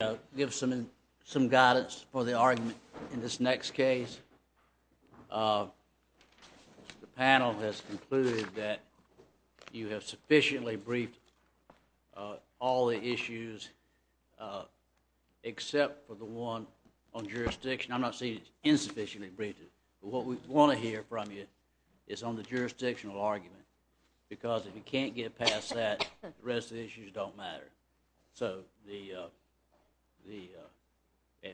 I'll give some guidance for the argument in this next case. The panel has concluded that you have sufficiently briefed all the issues except for the one on jurisdiction. I'm not saying it's insufficiently briefed, but what we want to hear from you is on the jurisdictional argument, because if you can't get past that, the rest of the issues don't matter. So,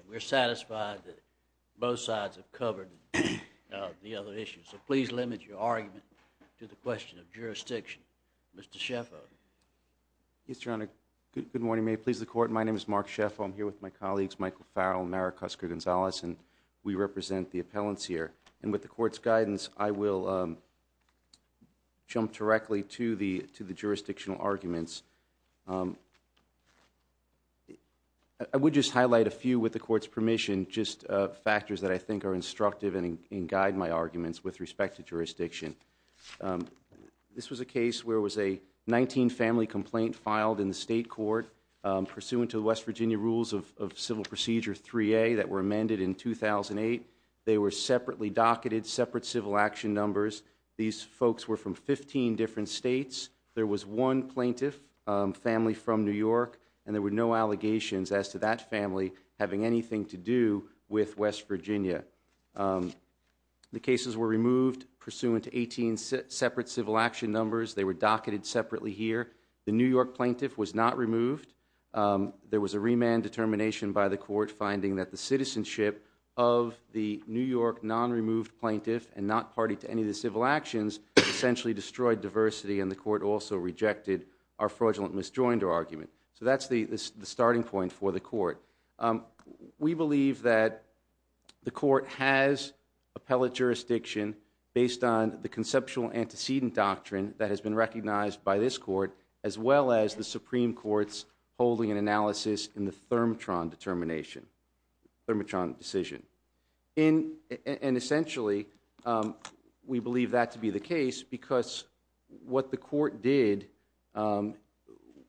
we're satisfied that both sides have covered the other issues. So, please limit your argument to the question of jurisdiction. Mr. Schaeffer. Yes, Your Honor. Good morning. May it please the Court. My name is Mark Schaeffer. I'm here with my colleagues, Michael Farrell and Maric Oscar Gonzalez, and we represent the appellants here. And with the Court's guidance, I will jump directly to the jurisdictional arguments. I would just highlight a few, with the Court's permission, just factors that I think are instructive and guide my arguments with respect to jurisdiction. This was a case where it was a 19-family complaint filed in the state court, pursuant to the West Virginia Rules of Civil Procedure 3A that were amended in 2008. They were separately docketed, separate civil action numbers. These folks were from 15 different states. There was one plaintiff, family from New York, and there were no allegations as to that family having anything to do with West Virginia. The cases were removed, pursuant to 18 separate civil action numbers. They were docketed separately here. The New York plaintiff was not removed. There was a remand determination by the Court finding that the citizenship of the New York non-removed plaintiff and not party to any of the civil actions essentially destroyed diversity, and the Court also rejected our fraudulent misjoined argument. So that's the starting point for the Court. We believe that the Court has appellate jurisdiction based on the conceptual antecedent doctrine that has been recognized by this Court, as well as the Supreme Court's holding and analysis in the Thermotron determination, Thermotron decision. And essentially, we believe that to be the case because what the Court did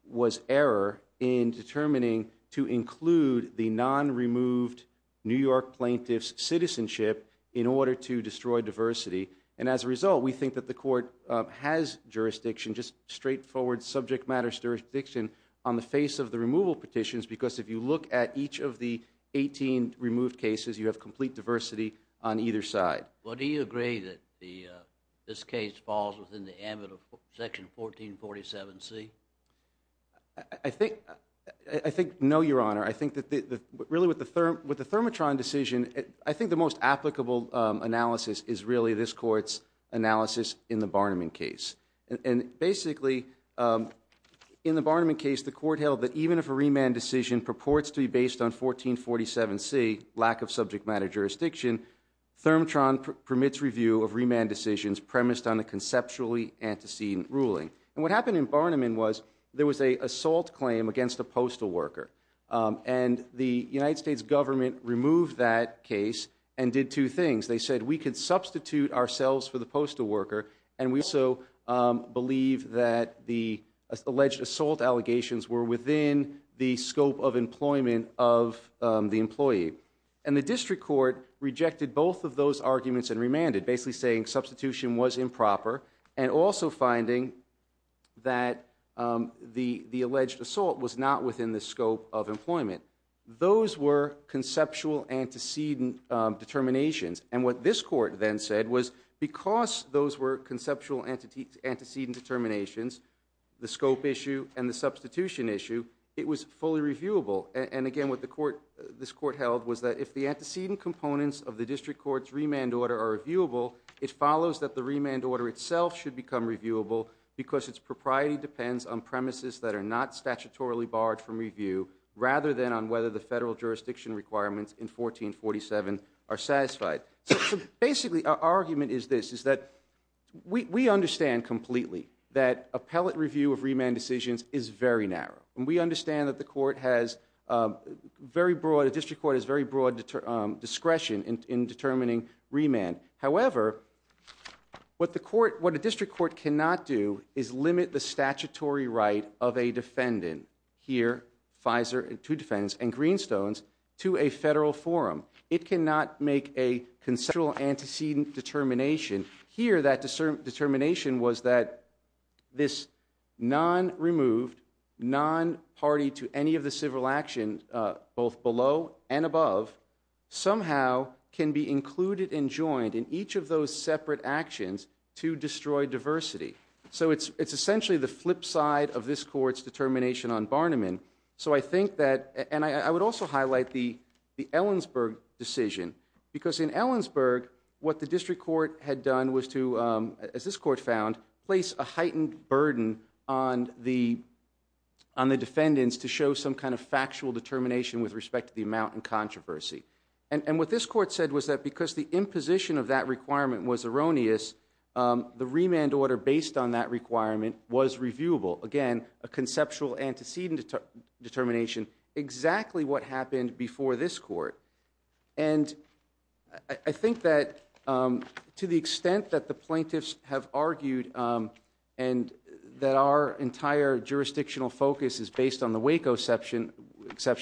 was error in determining to include the non-removed New York plaintiff's citizenship in order to destroy diversity. And as a result, we think that the Court has jurisdiction, just straightforward subject matter jurisdiction, on the face of the removal petitions because if you look at each of the 18 removed cases, you have complete diversity on either side. Well, do you agree that this case falls within the ambit of Section 1447C? I think no, Your Honor. I think that really with the Thermotron decision, I think the most applicable analysis is really this Court's analysis in the Barniman case. And basically, in the Barniman case, the Court held that even if a remand decision purports to be based on 1447C, lack of subject matter jurisdiction, Thermotron permits review of remand decisions premised on a conceptually antecedent ruling. And what happened in Barniman was there was an assault claim against a postal worker. And the United States government removed that case and did two things. They said we could substitute ourselves for the postal worker, and we also believe that the alleged assault allegations were within the scope of employment of the employee. And the District Court rejected both of those arguments and remanded, basically saying substitution was improper and also finding that the alleged assault was not within the scope of employment. Those were conceptual antecedent determinations. And what this Court then said was because those were conceptual antecedent determinations, the scope issue and the substitution issue, it was fully reviewable. And again, what this Court held was that if the antecedent components of the District Court's remand order are reviewable, it follows that the remand order itself should become reviewable because its propriety depends on premises that are not statutorily barred from review rather than on whether the federal jurisdiction requirements in 1447 are satisfied. So basically, our argument is this, is that we understand completely that appellate review of remand decisions is very narrow. And we understand that the District Court has very broad discretion in determining remand. However, what the District Court cannot do is limit the statutory right of a defendant here, two defendants and Greenstones, to a federal forum. It cannot make a conceptual antecedent determination. Here, that determination was that this non-removed, non-party to any of the civil action, both below and above, somehow can be included and joined in each of those separate actions to destroy diversity. So it's essentially the flip side of this Court's determination on Barniman. So I think that, and I would also highlight the Ellensburg decision. Because in Ellensburg, what the District Court had done was to, as this Court found, place a heightened burden on the defendants to show some kind of factual determination with respect to the amount and controversy. And what this Court said was that because the imposition of that requirement was erroneous, the remand order based on that requirement was reviewable. Again, a conceptual antecedent determination, exactly what happened before this Court. And I think that to the extent that the plaintiffs have argued and that our entire jurisdictional focus is based on the Waco exception,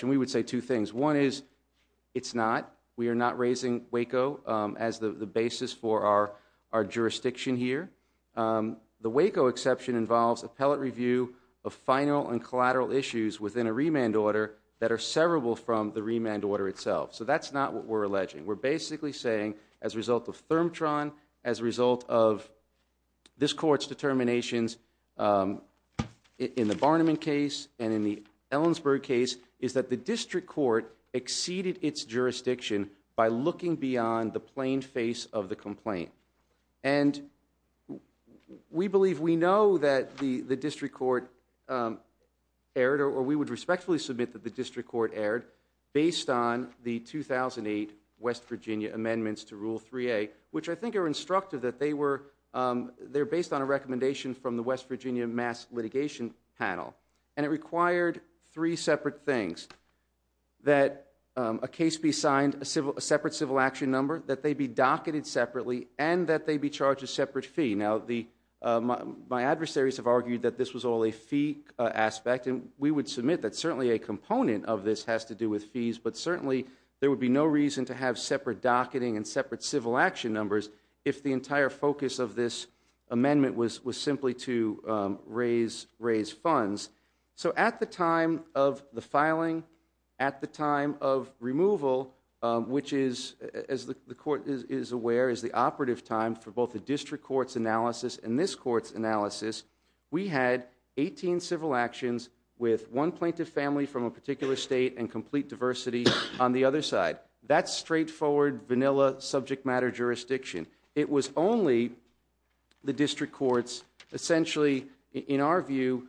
we would say two things. One is, it's not. We are not raising Waco as the basis for our jurisdiction here. The Waco exception involves appellate review of final and collateral issues within a remand order that are severable from the remand order itself. So that's not what we're alleging. We're basically saying, as a result of ThermTron, as a result of this Court's determinations in the Barniman case and in the Ellensburg case, is that the District Court exceeded its jurisdiction by looking beyond the plain face of the complaint. And we believe we know that the District Court erred, or we would respectfully submit that the District Court erred, based on the 2008 West Virginia amendments to Rule 3A, which I think are instructive. They're based on a recommendation from the West Virginia Mass Litigation Panel. And it required three separate things. That a case be signed, a separate civil action number, that they be docketed separately, and that they be charged a separate fee. Now, my adversaries have argued that this was all a fee aspect. And we would submit that certainly a component of this has to do with fees. But certainly, there would be no reason to have separate docketing and separate civil action numbers if the entire focus of this amendment was simply to raise funds. So at the time of the filing, at the time of removal, which is, as the Court is aware, is the operative time for both the District Court's analysis and this Court's analysis, we had 18 civil actions with one plaintiff family from a particular state and complete diversity on the other side. That's straightforward, vanilla, subject matter jurisdiction. It was only the District Courts, essentially, in our view,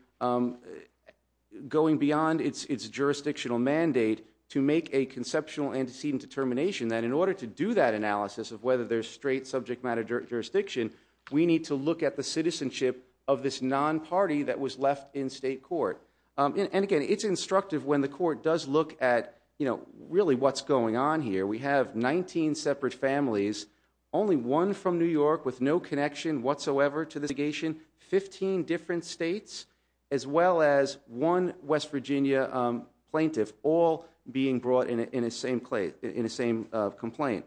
going beyond its jurisdictional mandate to make a conceptual antecedent determination that in order to do that analysis of whether there's straight subject matter jurisdiction, we need to look at the citizenship of this non-party that was left in state court. And again, it's instructive when the Court does look at, you know, really what's going on here. We have 19 separate families, only one from New York with no connection whatsoever to this litigation, 15 different states, as well as one West Virginia plaintiff all being brought in a same complaint.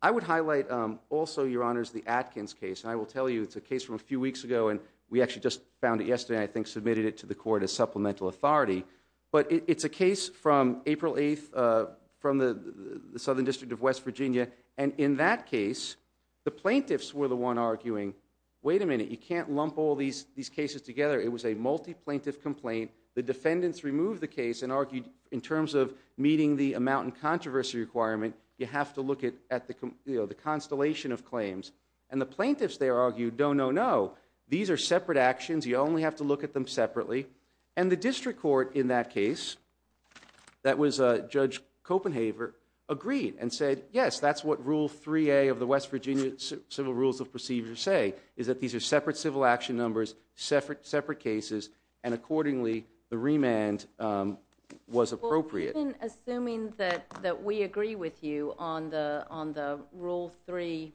I would highlight also, Your Honors, the Atkins case. I will tell you it's a case from a few weeks ago, and we actually just found it yesterday, I think, submitted it to the Court as supplemental authority. But it's a case from April 8th from the Southern District of West Virginia. And in that case, the plaintiffs were the one arguing, wait a minute, you can't lump all these cases together. It was a multi-plaintiff complaint. The defendants removed the case and argued in terms of meeting the amount and controversy requirement, you have to look at the constellation of claims. And the plaintiffs there argued, no, no, no. These are separate actions. You only have to look at them separately. And the district court in that case, that was Judge Copenhaver, agreed and said, yes, that's what Rule 3A of the West Virginia Civil Rules of Procedure say, is that these are separate civil action numbers, separate cases, and accordingly the remand was appropriate. Well, even assuming that we agree with you on the Rule 3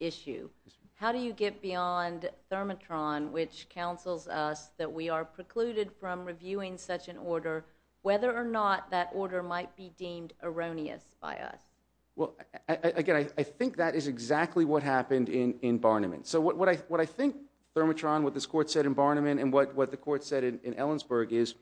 issue, how do you get beyond Thermotron, which counsels us that we are precluded from reviewing such an order, whether or not that order might be deemed erroneous by us? Well, again, I think that is exactly what happened in Barniman. So what I think Thermotron, what this Court said in Barniman, and what the Court said in Ellensburg is,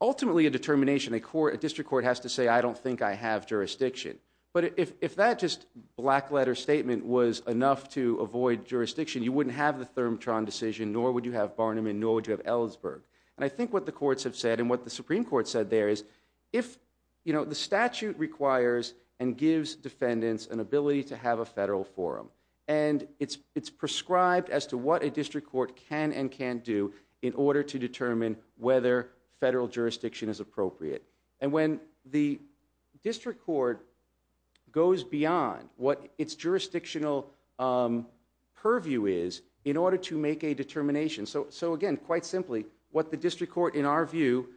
ultimately a determination, a district court has to say, I don't think I have jurisdiction. But if that just black letter statement was enough to avoid jurisdiction, you wouldn't have the Thermotron decision, nor would you have Barniman, nor would you have Ellensburg. And I think what the courts have said, and what the Supreme Court said there is, if the statute requires and gives defendants an ability to have a federal forum, and it's prescribed as to what a district court can and can't do in order to determine whether federal jurisdiction is appropriate. And when the district court goes beyond what its jurisdictional purview is, in order to make a determination. So again, quite simply, what the district court, in our view,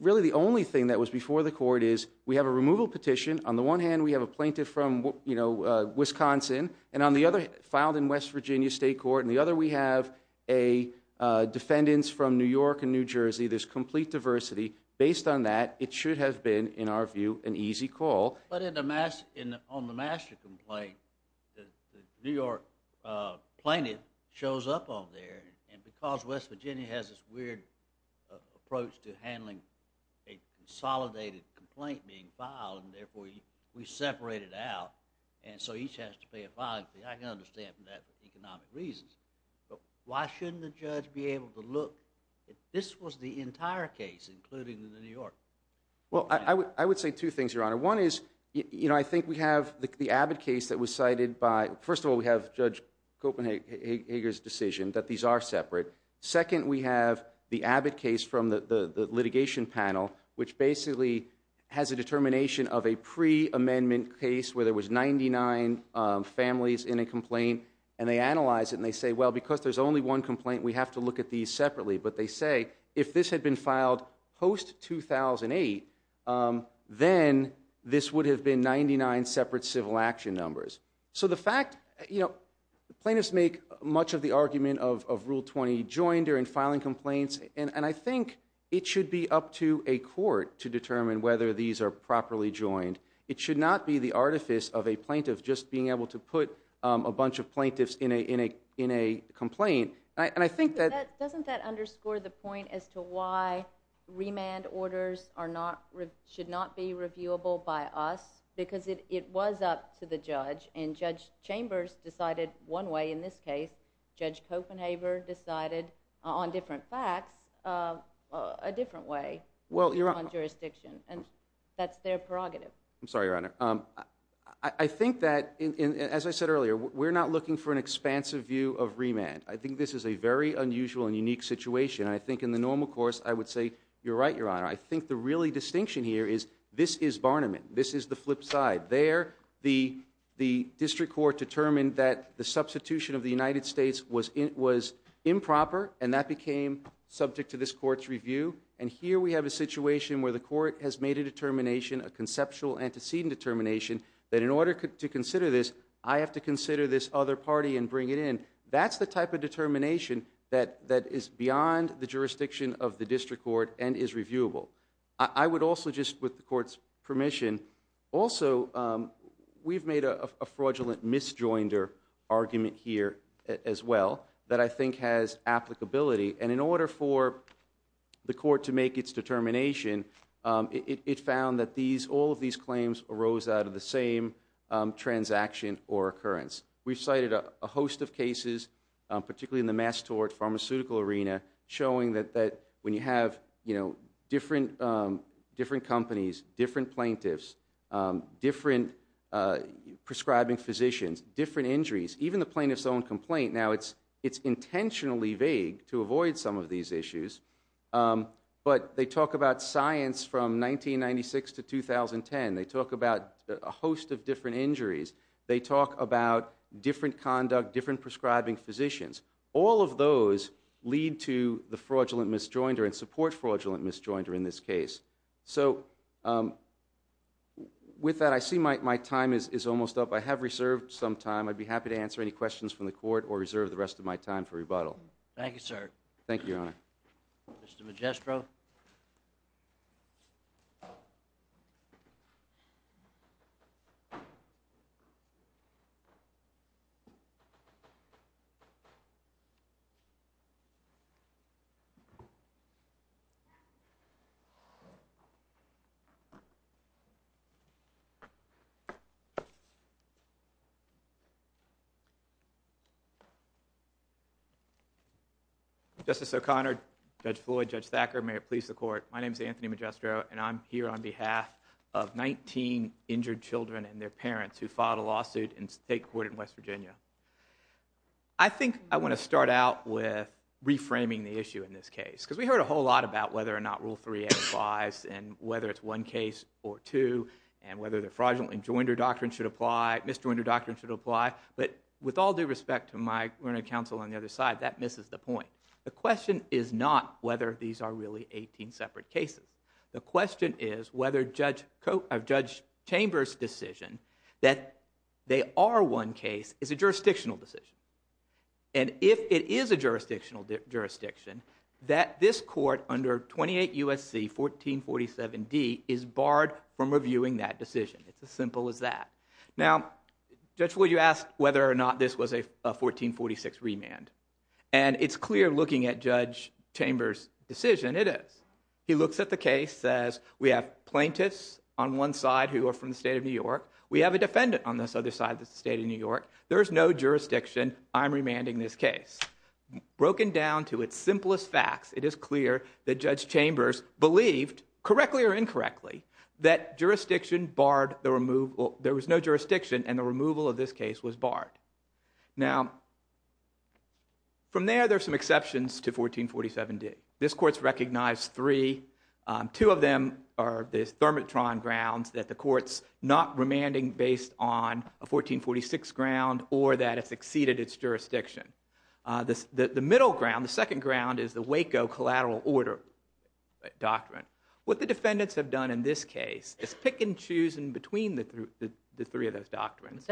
really the only thing that was before the court is, we have a removal petition. On the one hand, we have a plaintiff from, you know, Wisconsin. And on the other, filed in West Virginia State Court. And the other, we have defendants from New York and New Jersey. There's complete diversity. Based on that, it should have been, in our view, an easy call. But on the master complaint, the New York plaintiff shows up on there. And because West Virginia has this weird approach to handling a consolidated complaint being filed, and therefore we separate it out, and so each has to pay a fine, I can understand that for economic reasons. But why shouldn't the judge be able to look? This was the entire case, including the New York. Well, I would say two things, Your Honor. One is, you know, I think we have the Abbott case that was cited by, first of all, we have Judge Copenhager's decision that these are separate. Second, we have the Abbott case from the litigation panel, which basically has a determination of a pre-amendment case where there was 99 families in a complaint. And they analyze it, and they say, well, because there's only one complaint, we have to look at these separately. But they say, if this had been filed post-2008, then this would have been 99 separate civil action numbers. So the fact, you know, plaintiffs make much of the argument of Rule 20, join during filing complaints, and I think it should be up to a court to determine whether these are properly joined. It should not be the artifice of a plaintiff just being able to put a bunch of plaintiffs in a complaint. And I think that— Doesn't that underscore the point as to why remand orders should not be reviewable by us? Because it was up to the judge, and Judge Chambers decided one way in this case. Judge Copenhager decided on different facts a different way on jurisdiction. And that's their prerogative. I'm sorry, Your Honor. I think that, as I said earlier, we're not looking for an expansive view of remand. I think this is a very unusual and unique situation. I think in the normal course, I would say, you're right, Your Honor. I think the really distinction here is this is Barniman. This is the flip side. There, the district court determined that the substitution of the United States was improper, and that became subject to this court's review. And here we have a situation where the court has made a determination, a conceptual antecedent determination, that in order to consider this, I have to consider this other party and bring it in. That's the type of determination that is beyond the jurisdiction of the district court and is reviewable. I would also just, with the court's permission— Also, we've made a fraudulent misjoinder argument here as well that I think has applicability. And in order for the court to make its determination, it found that all of these claims arose out of the same transaction or occurrence. We've cited a host of cases, particularly in the mass tort pharmaceutical arena, showing that when you have different companies, different plaintiffs, different prescribing physicians, different injuries, even the plaintiff's own complaint, now it's intentionally vague to avoid some of these issues. But they talk about science from 1996 to 2010. They talk about a host of different injuries. They talk about different conduct, different prescribing physicians. All of those lead to the fraudulent misjoinder and support fraudulent misjoinder in this case. So with that, I see my time is almost up. I have reserved some time. I'd be happy to answer any questions from the court or reserve the rest of my time for rebuttal. Thank you, sir. Thank you, Your Honor. Mr. Magistro. Justice O'Connor, Judge Floyd, Judge Thacker, may it please the court. My name is Anthony Magistro, and I'm here on behalf of 19 injured children and their parents who filed a lawsuit in state court in West Virginia. I think I want to start out with reframing the issue in this case, because we heard a whole lot about whether or not Rule 3 applies and whether it's one case or two and whether the fraudulent misjoinder doctrine should apply. But with all due respect to my counsel on the other side, that misses the point. The question is not whether these are really 18 separate cases. The question is whether Judge Chamber's decision that they are one case is a jurisdictional decision. And if it is a jurisdictional jurisdiction, that this court under 28 U.S.C. 1447D is barred from reviewing that decision. It's as simple as that. Now, Judge Floyd, you asked whether or not this was a 1446 remand. And it's clear looking at Judge Chamber's decision, it is. He looks at the case, says we have plaintiffs on one side who are from the state of New York. We have a defendant on this other side of the state of New York. There is no jurisdiction. I'm remanding this case. Broken down to its simplest facts, it is clear that Judge Chamber's believed, correctly or incorrectly, that there was no jurisdiction and the removal of this case was barred. Now, from there, there are some exceptions to 1447D. This court's recognized three. Two of them are the thermitron grounds that the court's not remanding based on a 1446 ground or that it's exceeded its jurisdiction. The middle ground, the second ground, is the Waco collateral order doctrine. What the defendants have done in this case is pick and choose in between the three of those doctrines.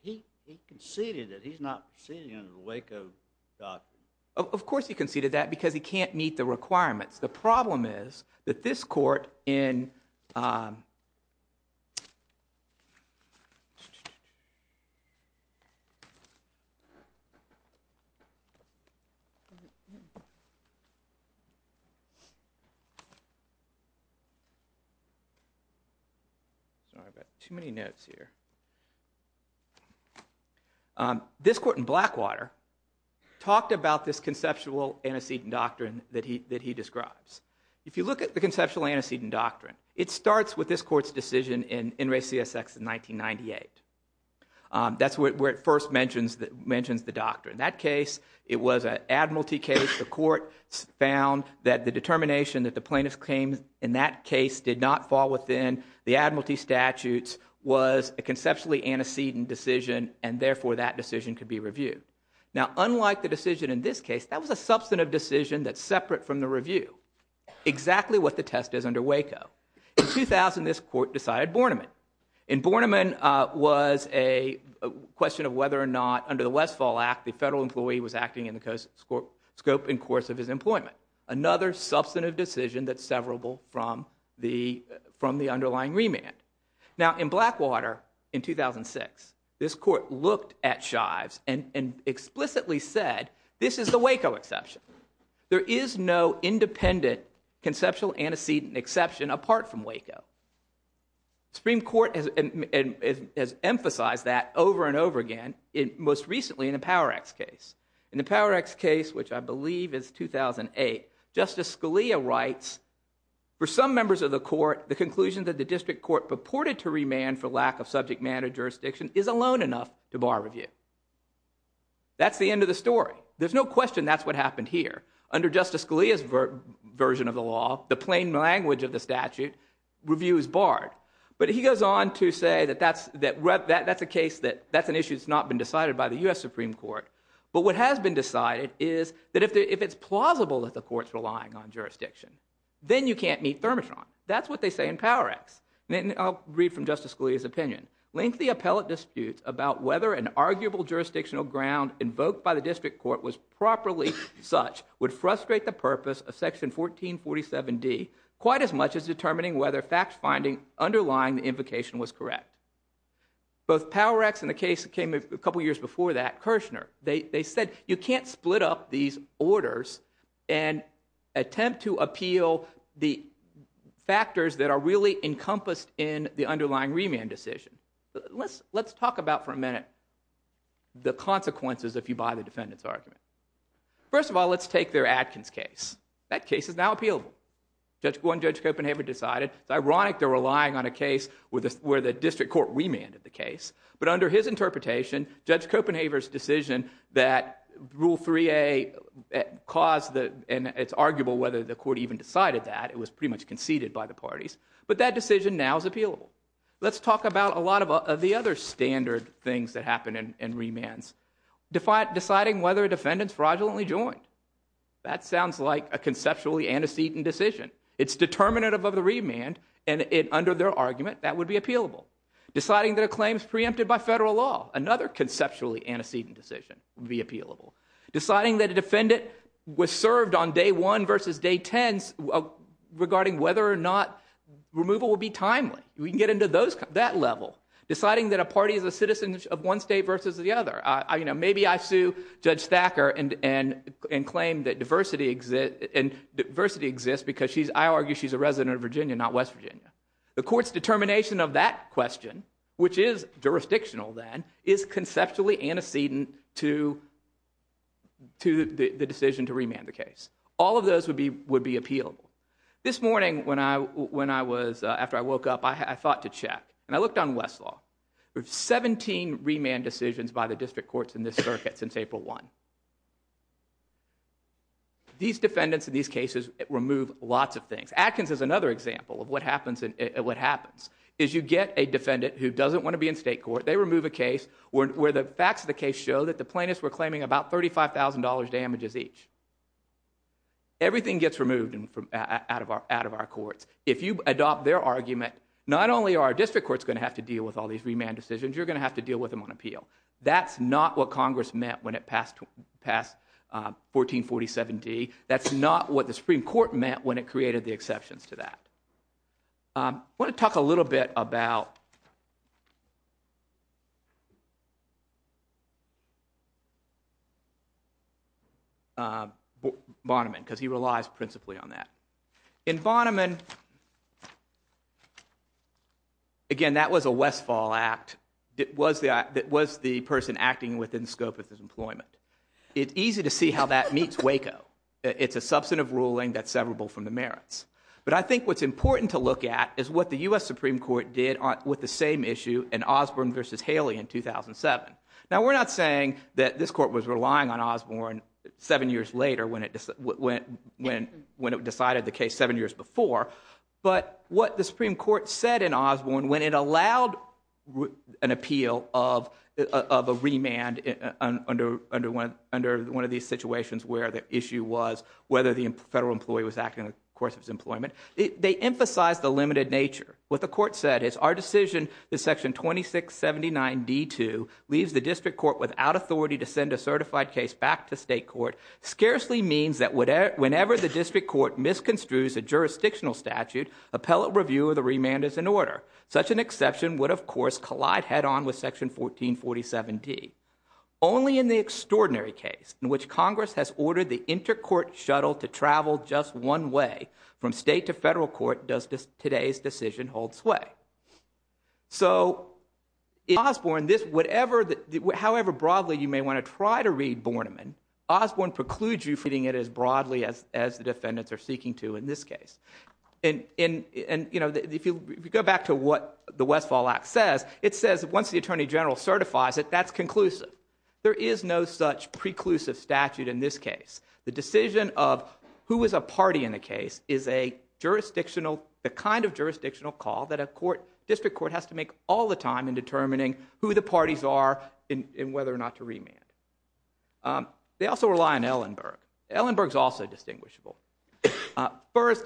He conceded that he's not conceding under the Waco doctrine. Of course he conceded that because he can't meet the requirements. The problem is that this court in Blackwater talked about this conceptual antecedent doctrine that he describes. If you look at the conceptual antecedent doctrine, it starts with this court's decision in In Re CSX in 1998. That's where it first mentions the doctrine. That case, it was an admiralty case. The court found that the determination that the plaintiff's claim in that case did not fall within the admiralty statutes was a conceptually antecedent decision and therefore that decision could be reviewed. Now unlike the decision in this case, that was a substantive decision that's separate from the review. Exactly what the test is under Waco. In 2000, this court decided Borneman. And Borneman was a question of whether or not under the Westfall Act, the federal employee was acting in the scope and course of his employment. Another substantive decision that's severable from the underlying remand. Now in Blackwater in 2006, this court looked at Shives and explicitly said, this is the Waco exception. There is no independent conceptual antecedent exception apart from Waco. Supreme Court has emphasized that over and over again, most recently in the Power X case. In the Power X case, which I believe is 2008, Justice Scalia writes, for some members of the court, the conclusion that the district court purported to remand for lack of subject matter jurisdiction is alone enough to bar review. That's the end of the story. There's no question that's what happened here. Under Justice Scalia's version of the law, the plain language of the statute, review is barred. But he goes on to say that that's a case that's an issue that's not been decided by the U.S. Supreme Court. But what has been decided is that if it's plausible that the court's relying on jurisdiction, then you can't meet Thermotron. That's what they say in Power X. I'll read from Justice Scalia's opinion. Lengthy appellate disputes about whether an arguable jurisdictional ground invoked by the district court was properly such would frustrate the purpose of Section 1447D quite as much as determining whether fact-finding underlying the invocation was correct. Both Power X and the case that came a couple years before that, Kirshner, they said you can't split up these orders and attempt to appeal the factors that are really encompassed in the underlying remand decision. Let's talk about for a minute the consequences if you buy the defendant's argument. First of all, let's take their Adkins case. That case is now appealable. One, Judge Copenhaver decided. It's ironic they're relying on a case where the district court remanded the case. But under his interpretation, Judge Copenhaver's decision that Rule 3A caused the and it's arguable whether the court even decided that. It was pretty much conceded by the parties. But that decision now is appealable. Let's talk about a lot of the other standard things that happen in remands. Deciding whether a defendant's fraudulently joined. That sounds like a conceptually antecedent decision. It's determinative of the remand, and under their argument, that would be appealable. Deciding that a claim is preempted by federal law. Another conceptually antecedent decision would be appealable. Deciding that a defendant was served on day one versus day ten regarding whether or not removal would be timely. We can get into that level. Deciding that a party is a citizen of one state versus the other. Maybe I sue Judge Thacker and claim that diversity exists because I argue she's a resident of Virginia, not West Virginia. The court's determination of that question, which is jurisdictional then, is conceptually antecedent to the decision to remand the case. All of those would be appealable. This morning, after I woke up, I thought to check, and I looked on Westlaw. We have 17 remand decisions by the district courts in this circuit since April 1. These defendants in these cases remove lots of things. Atkins is another example of what happens. You get a defendant who doesn't want to be in state court. They remove a case where the facts of the case show that the plaintiffs were claiming about $35,000 damages each. Everything gets removed out of our courts. If you adopt their argument, not only are our district courts going to have to deal with all these remand decisions, you're going to have to deal with them on appeal. That's not what Congress meant when it passed 1447D. That's not what the Supreme Court meant when it created the exceptions to that. I want to talk a little bit about Bonneman because he relies principally on that. In Bonneman, again, that was a Westfall act. It was the person acting within the scope of his employment. It's easy to see how that meets Waco. It's a substantive ruling that's severable from the merits. But I think what's important to look at is what the U.S. Supreme Court did with the same issue in Osborne v. Haley in 2007. Now, we're not saying that this court was relying on Osborne seven years later when it decided the case seven years before. But what the Supreme Court said in Osborne when it allowed an appeal of a remand under one of these situations where the issue was whether the federal employee was acting in the course of his employment, they emphasized the limited nature. What the court said is, our decision, the section 2679D2, leaves the district court without authority to send a certified case back to state court scarcely means that whenever the district court misconstrues a jurisdictional statute, appellate review of the remand is in order. Such an exception would, of course, collide head-on with section 1447D. Only in the extraordinary case in which Congress has ordered the intercourt shuttle to travel just one way from state to federal court does today's decision hold sway. So in Osborne, however broadly you may want to try to read Borneman, Osborne precludes you from reading it as broadly as the defendants are seeking to in this case. And if you go back to what the Westfall Act says, it says once the Attorney General certifies it, that's conclusive. There is no such preclusive statute in this case. The decision of who is a party in the case is the kind of jurisdictional call that a district court has to make all the time in determining who the parties are and whether or not to remand. They also rely on Ellenberg. Ellenberg is also distinguishable. First,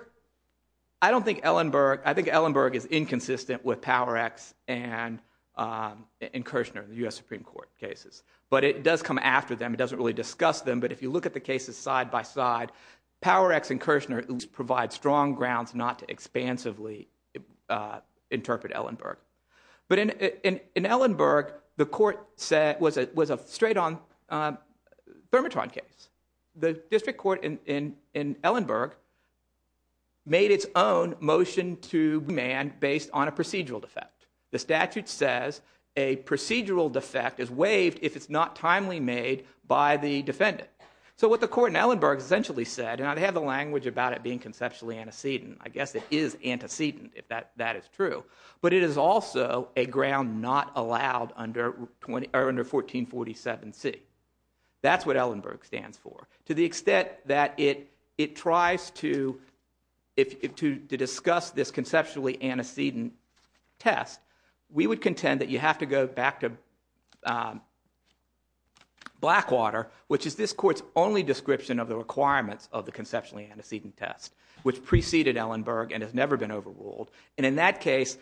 I think Ellenberg is inconsistent with Power-X and Kirchner, the U.S. Supreme Court cases, but it does come after them. It doesn't really discuss them, but if you look at the cases side by side, Power-X and Kirchner provide strong grounds not to expansively interpret Ellenberg. But in Ellenberg, the court said it was a straight-on bermatron case. The district court in Ellenberg made its own motion to remand based on a procedural defect. The statute says a procedural defect is waived if it's not timely made by the defendant. So what the court in Ellenberg essentially said, and I have the language about it being conceptually antecedent, I guess it is antecedent if that is true, but it is also a ground not allowed under 1447C. That's what Ellenberg stands for. To the extent that it tries to discuss this conceptually antecedent test, we would contend that you have to go back to Blackwater, which is this court's only description of the requirements of the conceptually antecedent test, which preceded Ellenberg and has never been overruled. And in that case,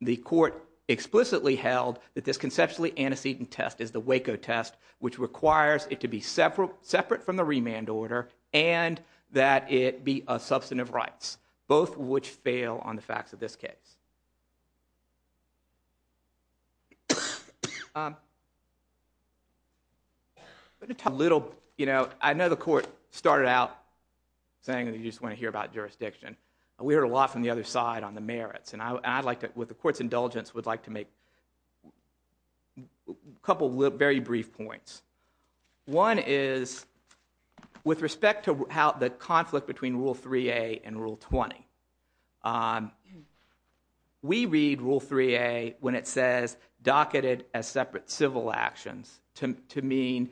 the court explicitly held that this conceptually antecedent test is the Waco test, which requires it to be separate from the remand order and that it be of substantive rights, both of which fail on the facts of this case. I know the court started out saying that you just want to hear about jurisdiction. We heard a lot from the other side on the merits, and with the court's indulgence I would like to make a couple of very brief points. One is with respect to the conflict between Rule 3A and Rule 20. We read Rule 3A when it says docketed as separate civil actions to mean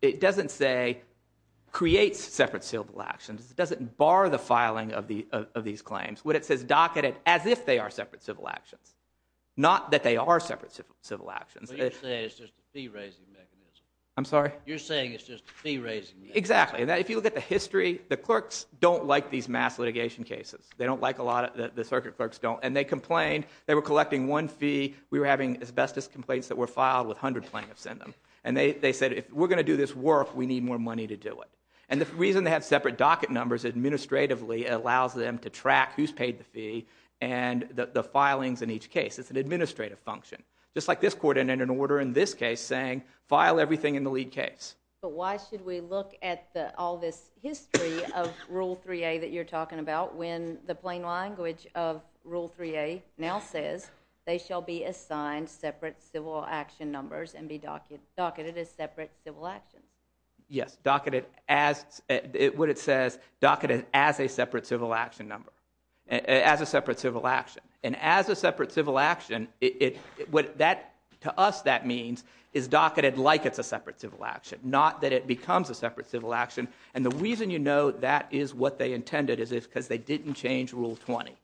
it doesn't say creates separate civil actions. It doesn't bar the filing of these claims. When it says docketed as if they are separate civil actions, not that they are separate civil actions. But you're saying it's just a fee-raising mechanism. I'm sorry? You're saying it's just a fee-raising mechanism. Exactly. If you look at the history, the clerks don't like these mass litigation cases. They don't like a lot of it. The circuit clerks don't. And they complained. They were collecting one fee. We were having asbestos complaints that were filed with 100 plaintiffs in them. And they said if we're going to do this work, we need more money to do it. And the reason they have separate docket numbers administratively allows them to track who's paid the fee and the filings in each case. It's an administrative function. Just like this court ended an order in this case saying file everything in the lead case. But why should we look at all this history of Rule 3A that you're talking about when the plain language of Rule 3A now says they shall be assigned separate civil action numbers and be docketed as separate civil actions? Yes. Docketed as what it says, docketed as a separate civil action number. As a separate civil action. And as a separate civil action, to us that means is docketed like it's a separate civil action, not that it becomes a separate civil action. And the reason you know that is what they intended is because they didn't change Rule 20.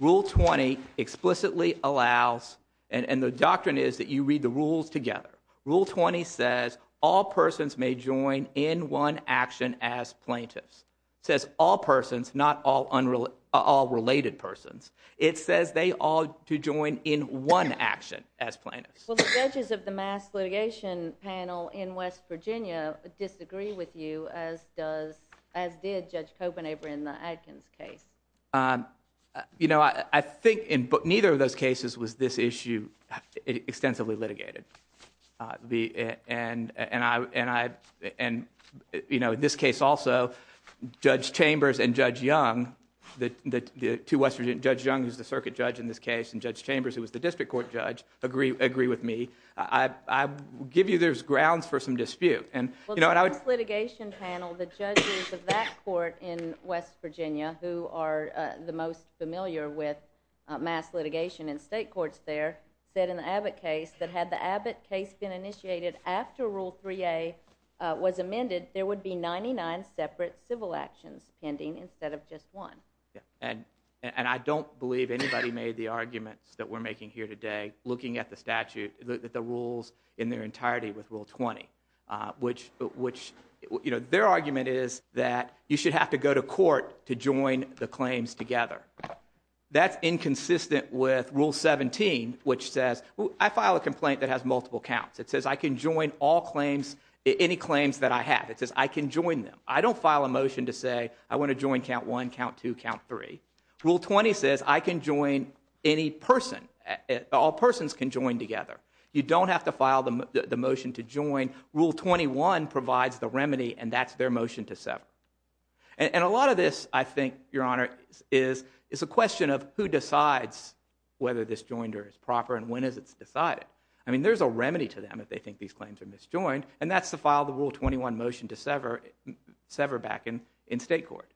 Rule 20 explicitly allows, and the doctrine is that you read the rules together. Rule 20 says all persons may join in one action as plaintiffs. It says all persons, not all related persons. It says they ought to join in one action as plaintiffs. Well, the judges of the mass litigation panel in West Virginia disagree with you as did Judge Copenhaver in the Adkins case. You know, I think neither of those cases was this issue extensively litigated. And you know, in this case also, Judge Chambers and Judge Young, Judge Young who's the circuit judge in this case and Judge Chambers who was the district court judge, agree with me. I give you there's grounds for some dispute. Well, the mass litigation panel, the judges of that court in West Virginia who are the most familiar with mass litigation in state courts there, said in the Abbott case that had the Abbott case been initiated after Rule 3A was amended, there would be 99 separate civil actions pending instead of just one. And I don't believe anybody made the arguments that we're making here today looking at the rules in their entirety with Rule 20, which their argument is that you should have to go to court to join the claims together. That's inconsistent with Rule 17, which says I file a complaint that has multiple counts. It says I can join any claims that I have. It says I can join them. I don't file a motion to say I want to join Count 1, Count 2, Count 3. Rule 20 says I can join any person. All persons can join together. You don't have to file the motion to join. Rule 21 provides the remedy, and that's their motion to sever. And a lot of this, I think, Your Honor, is a question of who decides whether this joinder is proper and when is it decided. I mean, there's a remedy to them if they think these claims are misjoined, and that's to file the Rule 21 motion to sever back in state court.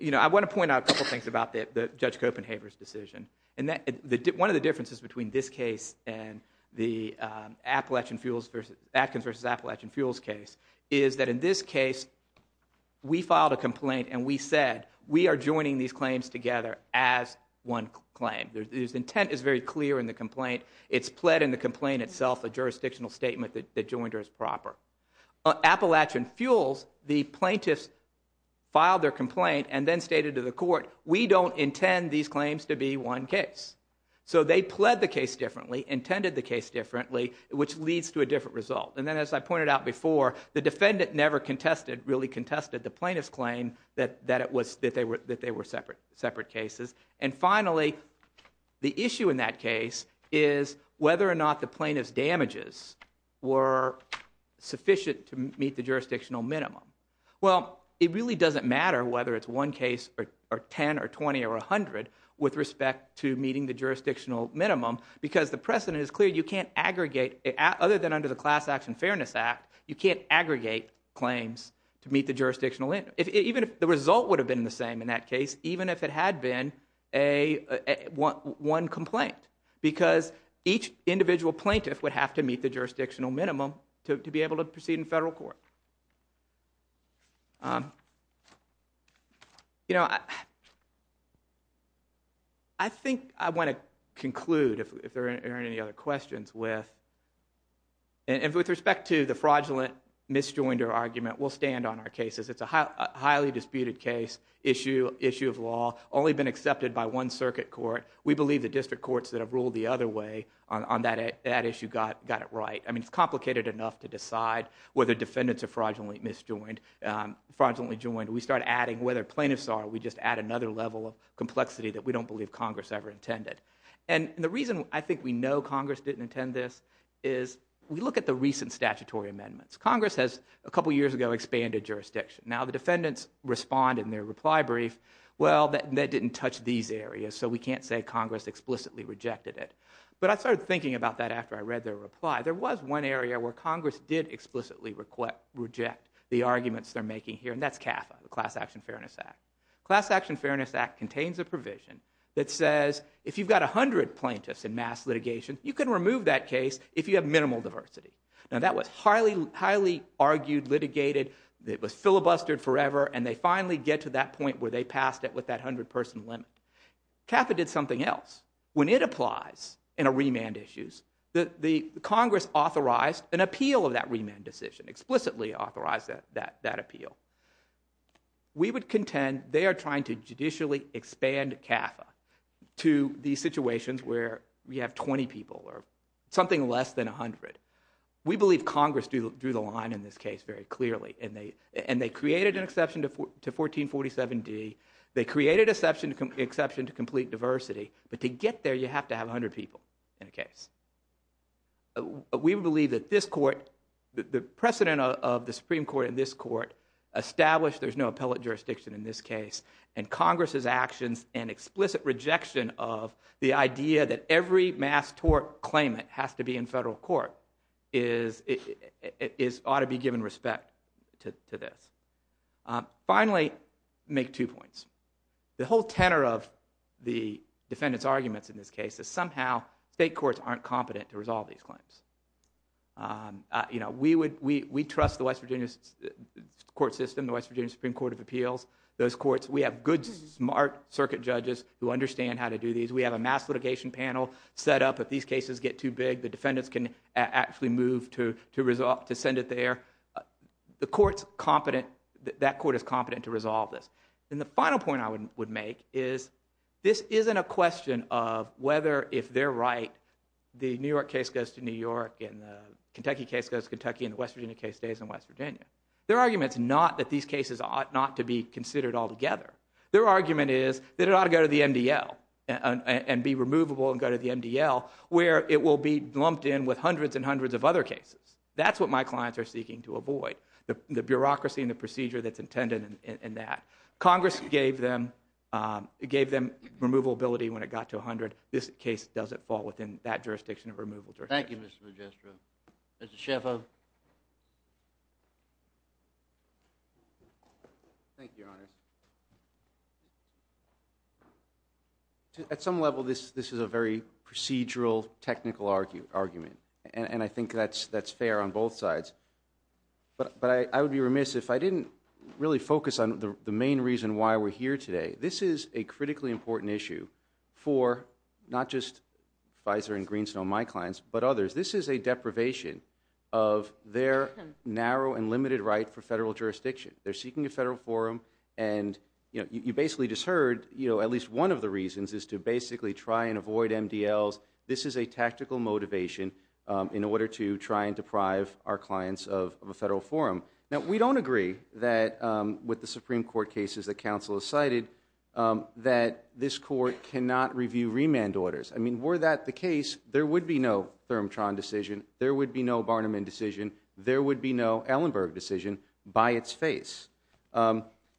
You know, I want to point out a couple things about Judge Copenhaver's decision. One of the differences between this case and the Atkins v. Appalachian Fuels case is that in this case we filed a complaint and we said we are joining these claims together as one claim. The intent is very clear in the complaint. It's pled in the complaint itself, a jurisdictional statement that the joinder is proper. On Appalachian Fuels, the plaintiffs filed their complaint and then stated to the court, we don't intend these claims to be one case. So they pled the case differently, intended the case differently, which leads to a different result. And then as I pointed out before, the defendant never contested, really contested, the plaintiff's claim that they were separate cases. And finally, the issue in that case is whether or not the plaintiff's damages were sufficient to meet the jurisdictional minimum. Well, it really doesn't matter whether it's one case or 10 or 20 or 100 with respect to meeting the jurisdictional minimum because the precedent is clear, you can't aggregate, other than under the Class Action Fairness Act, you can't aggregate claims to meet the jurisdictional minimum. Even if the result would have been the same in that case, even if it had been one complaint. Because each individual plaintiff would have to meet the jurisdictional minimum to be able to proceed in federal court. You know, I think I want to conclude, if there aren't any other questions, with respect to the fraudulent misjoinder argument, we'll stand on our cases. It's a highly disputed case, issue of law, only been accepted by one circuit court. We believe the district courts that have ruled the other way on that issue got it right. I mean, it's complicated enough to decide whether defendants are fraudulently joined. We start adding whether plaintiffs are, we just add another level of complexity that we don't believe Congress ever intended. And the reason I think we know Congress didn't intend this is we look at the recent statutory amendments. Congress has, a couple years ago, expanded jurisdiction. Now the defendants respond in their reply brief, well, that didn't touch these areas, so we can't say Congress explicitly rejected it. But I started thinking about that after I read their reply. There was one area where Congress did explicitly reject the arguments they're making here, and that's CAFA, the Class Action Fairness Act. The Class Action Fairness Act contains a provision that says if you've got 100 plaintiffs in mass litigation, you can remove that case if you have minimal diversity. Now that was highly argued, litigated, it was filibustered forever, and they finally get to that point where they passed it with that 100-person limit. CAFA did something else. When it applies in remand issues, Congress authorized an appeal of that remand decision, explicitly authorized that appeal. We would contend they are trying to judicially expand CAFA to these situations where we have 20 people or something less than 100. We believe Congress drew the line in this case very clearly, and they created an exception to 1447D, they created an exception to complete diversity, but to get there you have to have 100 people in a case. We believe that this court, the precedent of the Supreme Court in this court established there's no appellate jurisdiction in this case, and Congress's actions and explicit rejection of the idea that every mass tort claimant has to be in federal court ought to be given respect to this. Finally, make two points. The whole tenor of the defendant's arguments in this case is somehow state courts aren't competent to resolve these claims. We trust the West Virginia court system, the West Virginia Supreme Court of Appeals, those courts, we have good, smart circuit judges who understand how to do these, we have a mass litigation panel set up if these cases get too big, the defendants can actually move to send it there. That court is competent to resolve this. And the final point I would make is this isn't a question of whether if they're right the New York case goes to New York and the Kentucky case goes to Kentucky and the West Virginia case stays in West Virginia. Their argument's not that these cases ought not to be considered altogether. Their argument is that it ought to go to the MDL and be removable and go to the MDL where it will be lumped in with hundreds and hundreds of other cases. That's what my clients are seeking to avoid, the bureaucracy and the procedure that's intended in that. Congress gave them removable ability when it got to 100. This case doesn't fall within that jurisdiction of removal jurisdiction. Thank you, Mr. Magistro. Mr. Schaffo. Thank you, Your Honors. At some level, this is a very procedural, technical argument. And I think that's fair on both sides. But I would be remiss if I didn't really focus on the main reason why we're here today. This is a critically important issue for not just Pfizer and Green Snow, my clients, but others. This is a deprivation of their narrow and limited right for federal jurisdiction. They're seeking a federal forum. And you basically just heard at least one of the reasons is to basically try and avoid MDLs. This is a tactical motivation in order to try and deprive our clients of a federal forum. Now, we don't agree with the Supreme Court cases that counsel has cited that this court cannot review remand orders. I mean, were that the case, there would be no Thermotron decision, there would be no Barnum indecision, there would be no Ellenberg decision by its face.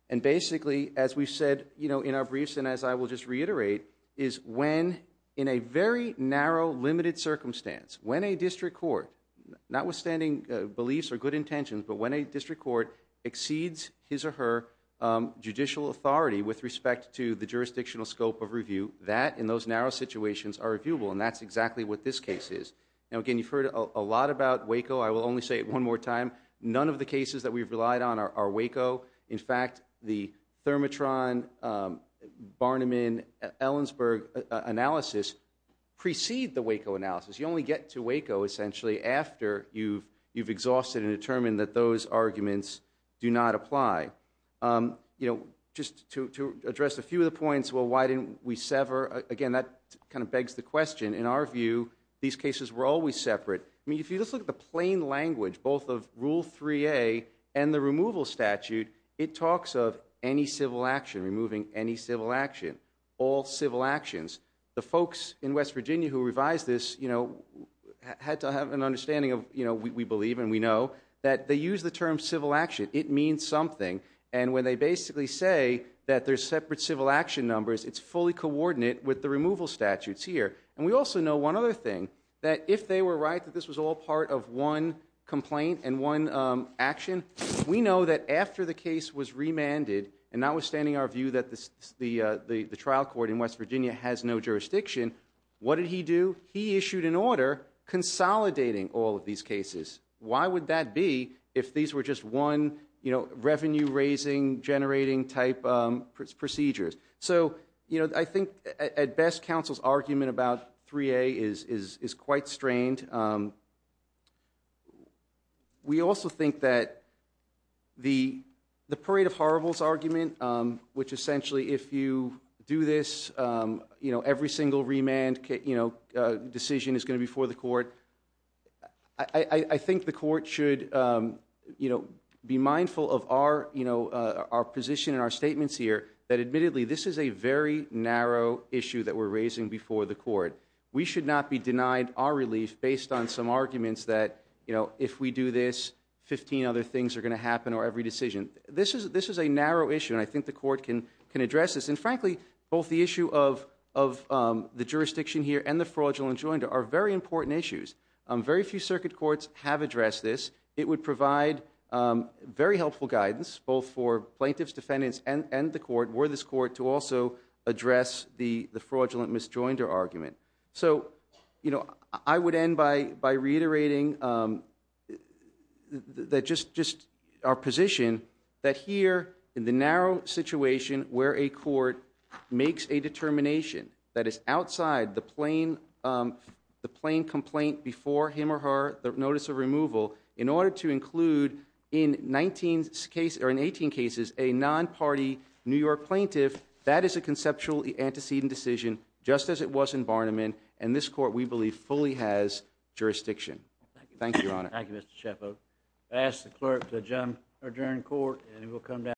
And basically, as we said in our briefs and as I will just reiterate, is when, in a very narrow, limited circumstance, when a district court, notwithstanding beliefs or good intentions, but when a district court exceeds his or her judicial authority with respect to the jurisdictional scope of review, that, in those narrow situations, are reviewable. And that's exactly what this case is. Now, again, you've heard a lot about Waco. I will only say it one more time. None of the cases that we've relied on are Waco. In fact, the Thermotron, Barnum, and Ellenberg analysis precede the Waco analysis. You only get to Waco, essentially, after you've exhausted and determined that those arguments do not apply. You know, just to address a few of the points, well, why didn't we sever? Again, that kind of begs the question. In our view, these cases were always separate. I mean, if you just look at the plain language, both of Rule 3A and the removal statute, it talks of any civil action, removing any civil action. All civil actions. The folks in West Virginia who revised this, you know, had to have an understanding of, you know, we believe and we know, that they use the term civil action. It means something. And when they basically say that there's separate civil action numbers, it's fully coordinate with the removal statutes here. And we also know one other thing, that if they were right that this was all part of one complaint and one action, we know that after the case was remanded, and notwithstanding our view that the trial court in West Virginia has no jurisdiction, what did he do? He issued an order consolidating all of these cases. Why would that be if these were just one, you know, revenue-raising, generating-type procedures? So, you know, I think, at best, counsel's argument about 3A is quite strained. We also think that the Parade of Horribles argument, which essentially if you do this, you know, every single remand, you know, decision is going to be for the court. I think the court should, you know, be mindful of our, you know, our position and our statements here that, admittedly, this is a very narrow issue that we're raising before the court. We should not be denied our relief based on some arguments that, you know, if we do this, 15 other things are going to happen or every decision. This is a narrow issue, and I think the court can address this. And, frankly, both the issue of the jurisdiction here and the fraudulent enjoinder are very important issues. Very few circuit courts have addressed this. It would provide very helpful guidance, both for plaintiffs, defendants, and the court, were this court to also address the fraudulent enjoinder argument. So, you know, I would end by reiterating that just our position that here in the narrow situation where a court makes a determination that is outside the plain complaint before him or her, the notice of removal, in order to include, in 19 cases, or in 18 cases, a non-party New York plaintiff, that is a conceptual antecedent decision, just as it was in Barniman, and this court, we believe, fully has jurisdiction. Thank you, Your Honor. Thank you, Mr. Chaffoe. I ask the clerk to adjourn the court, and we'll come back.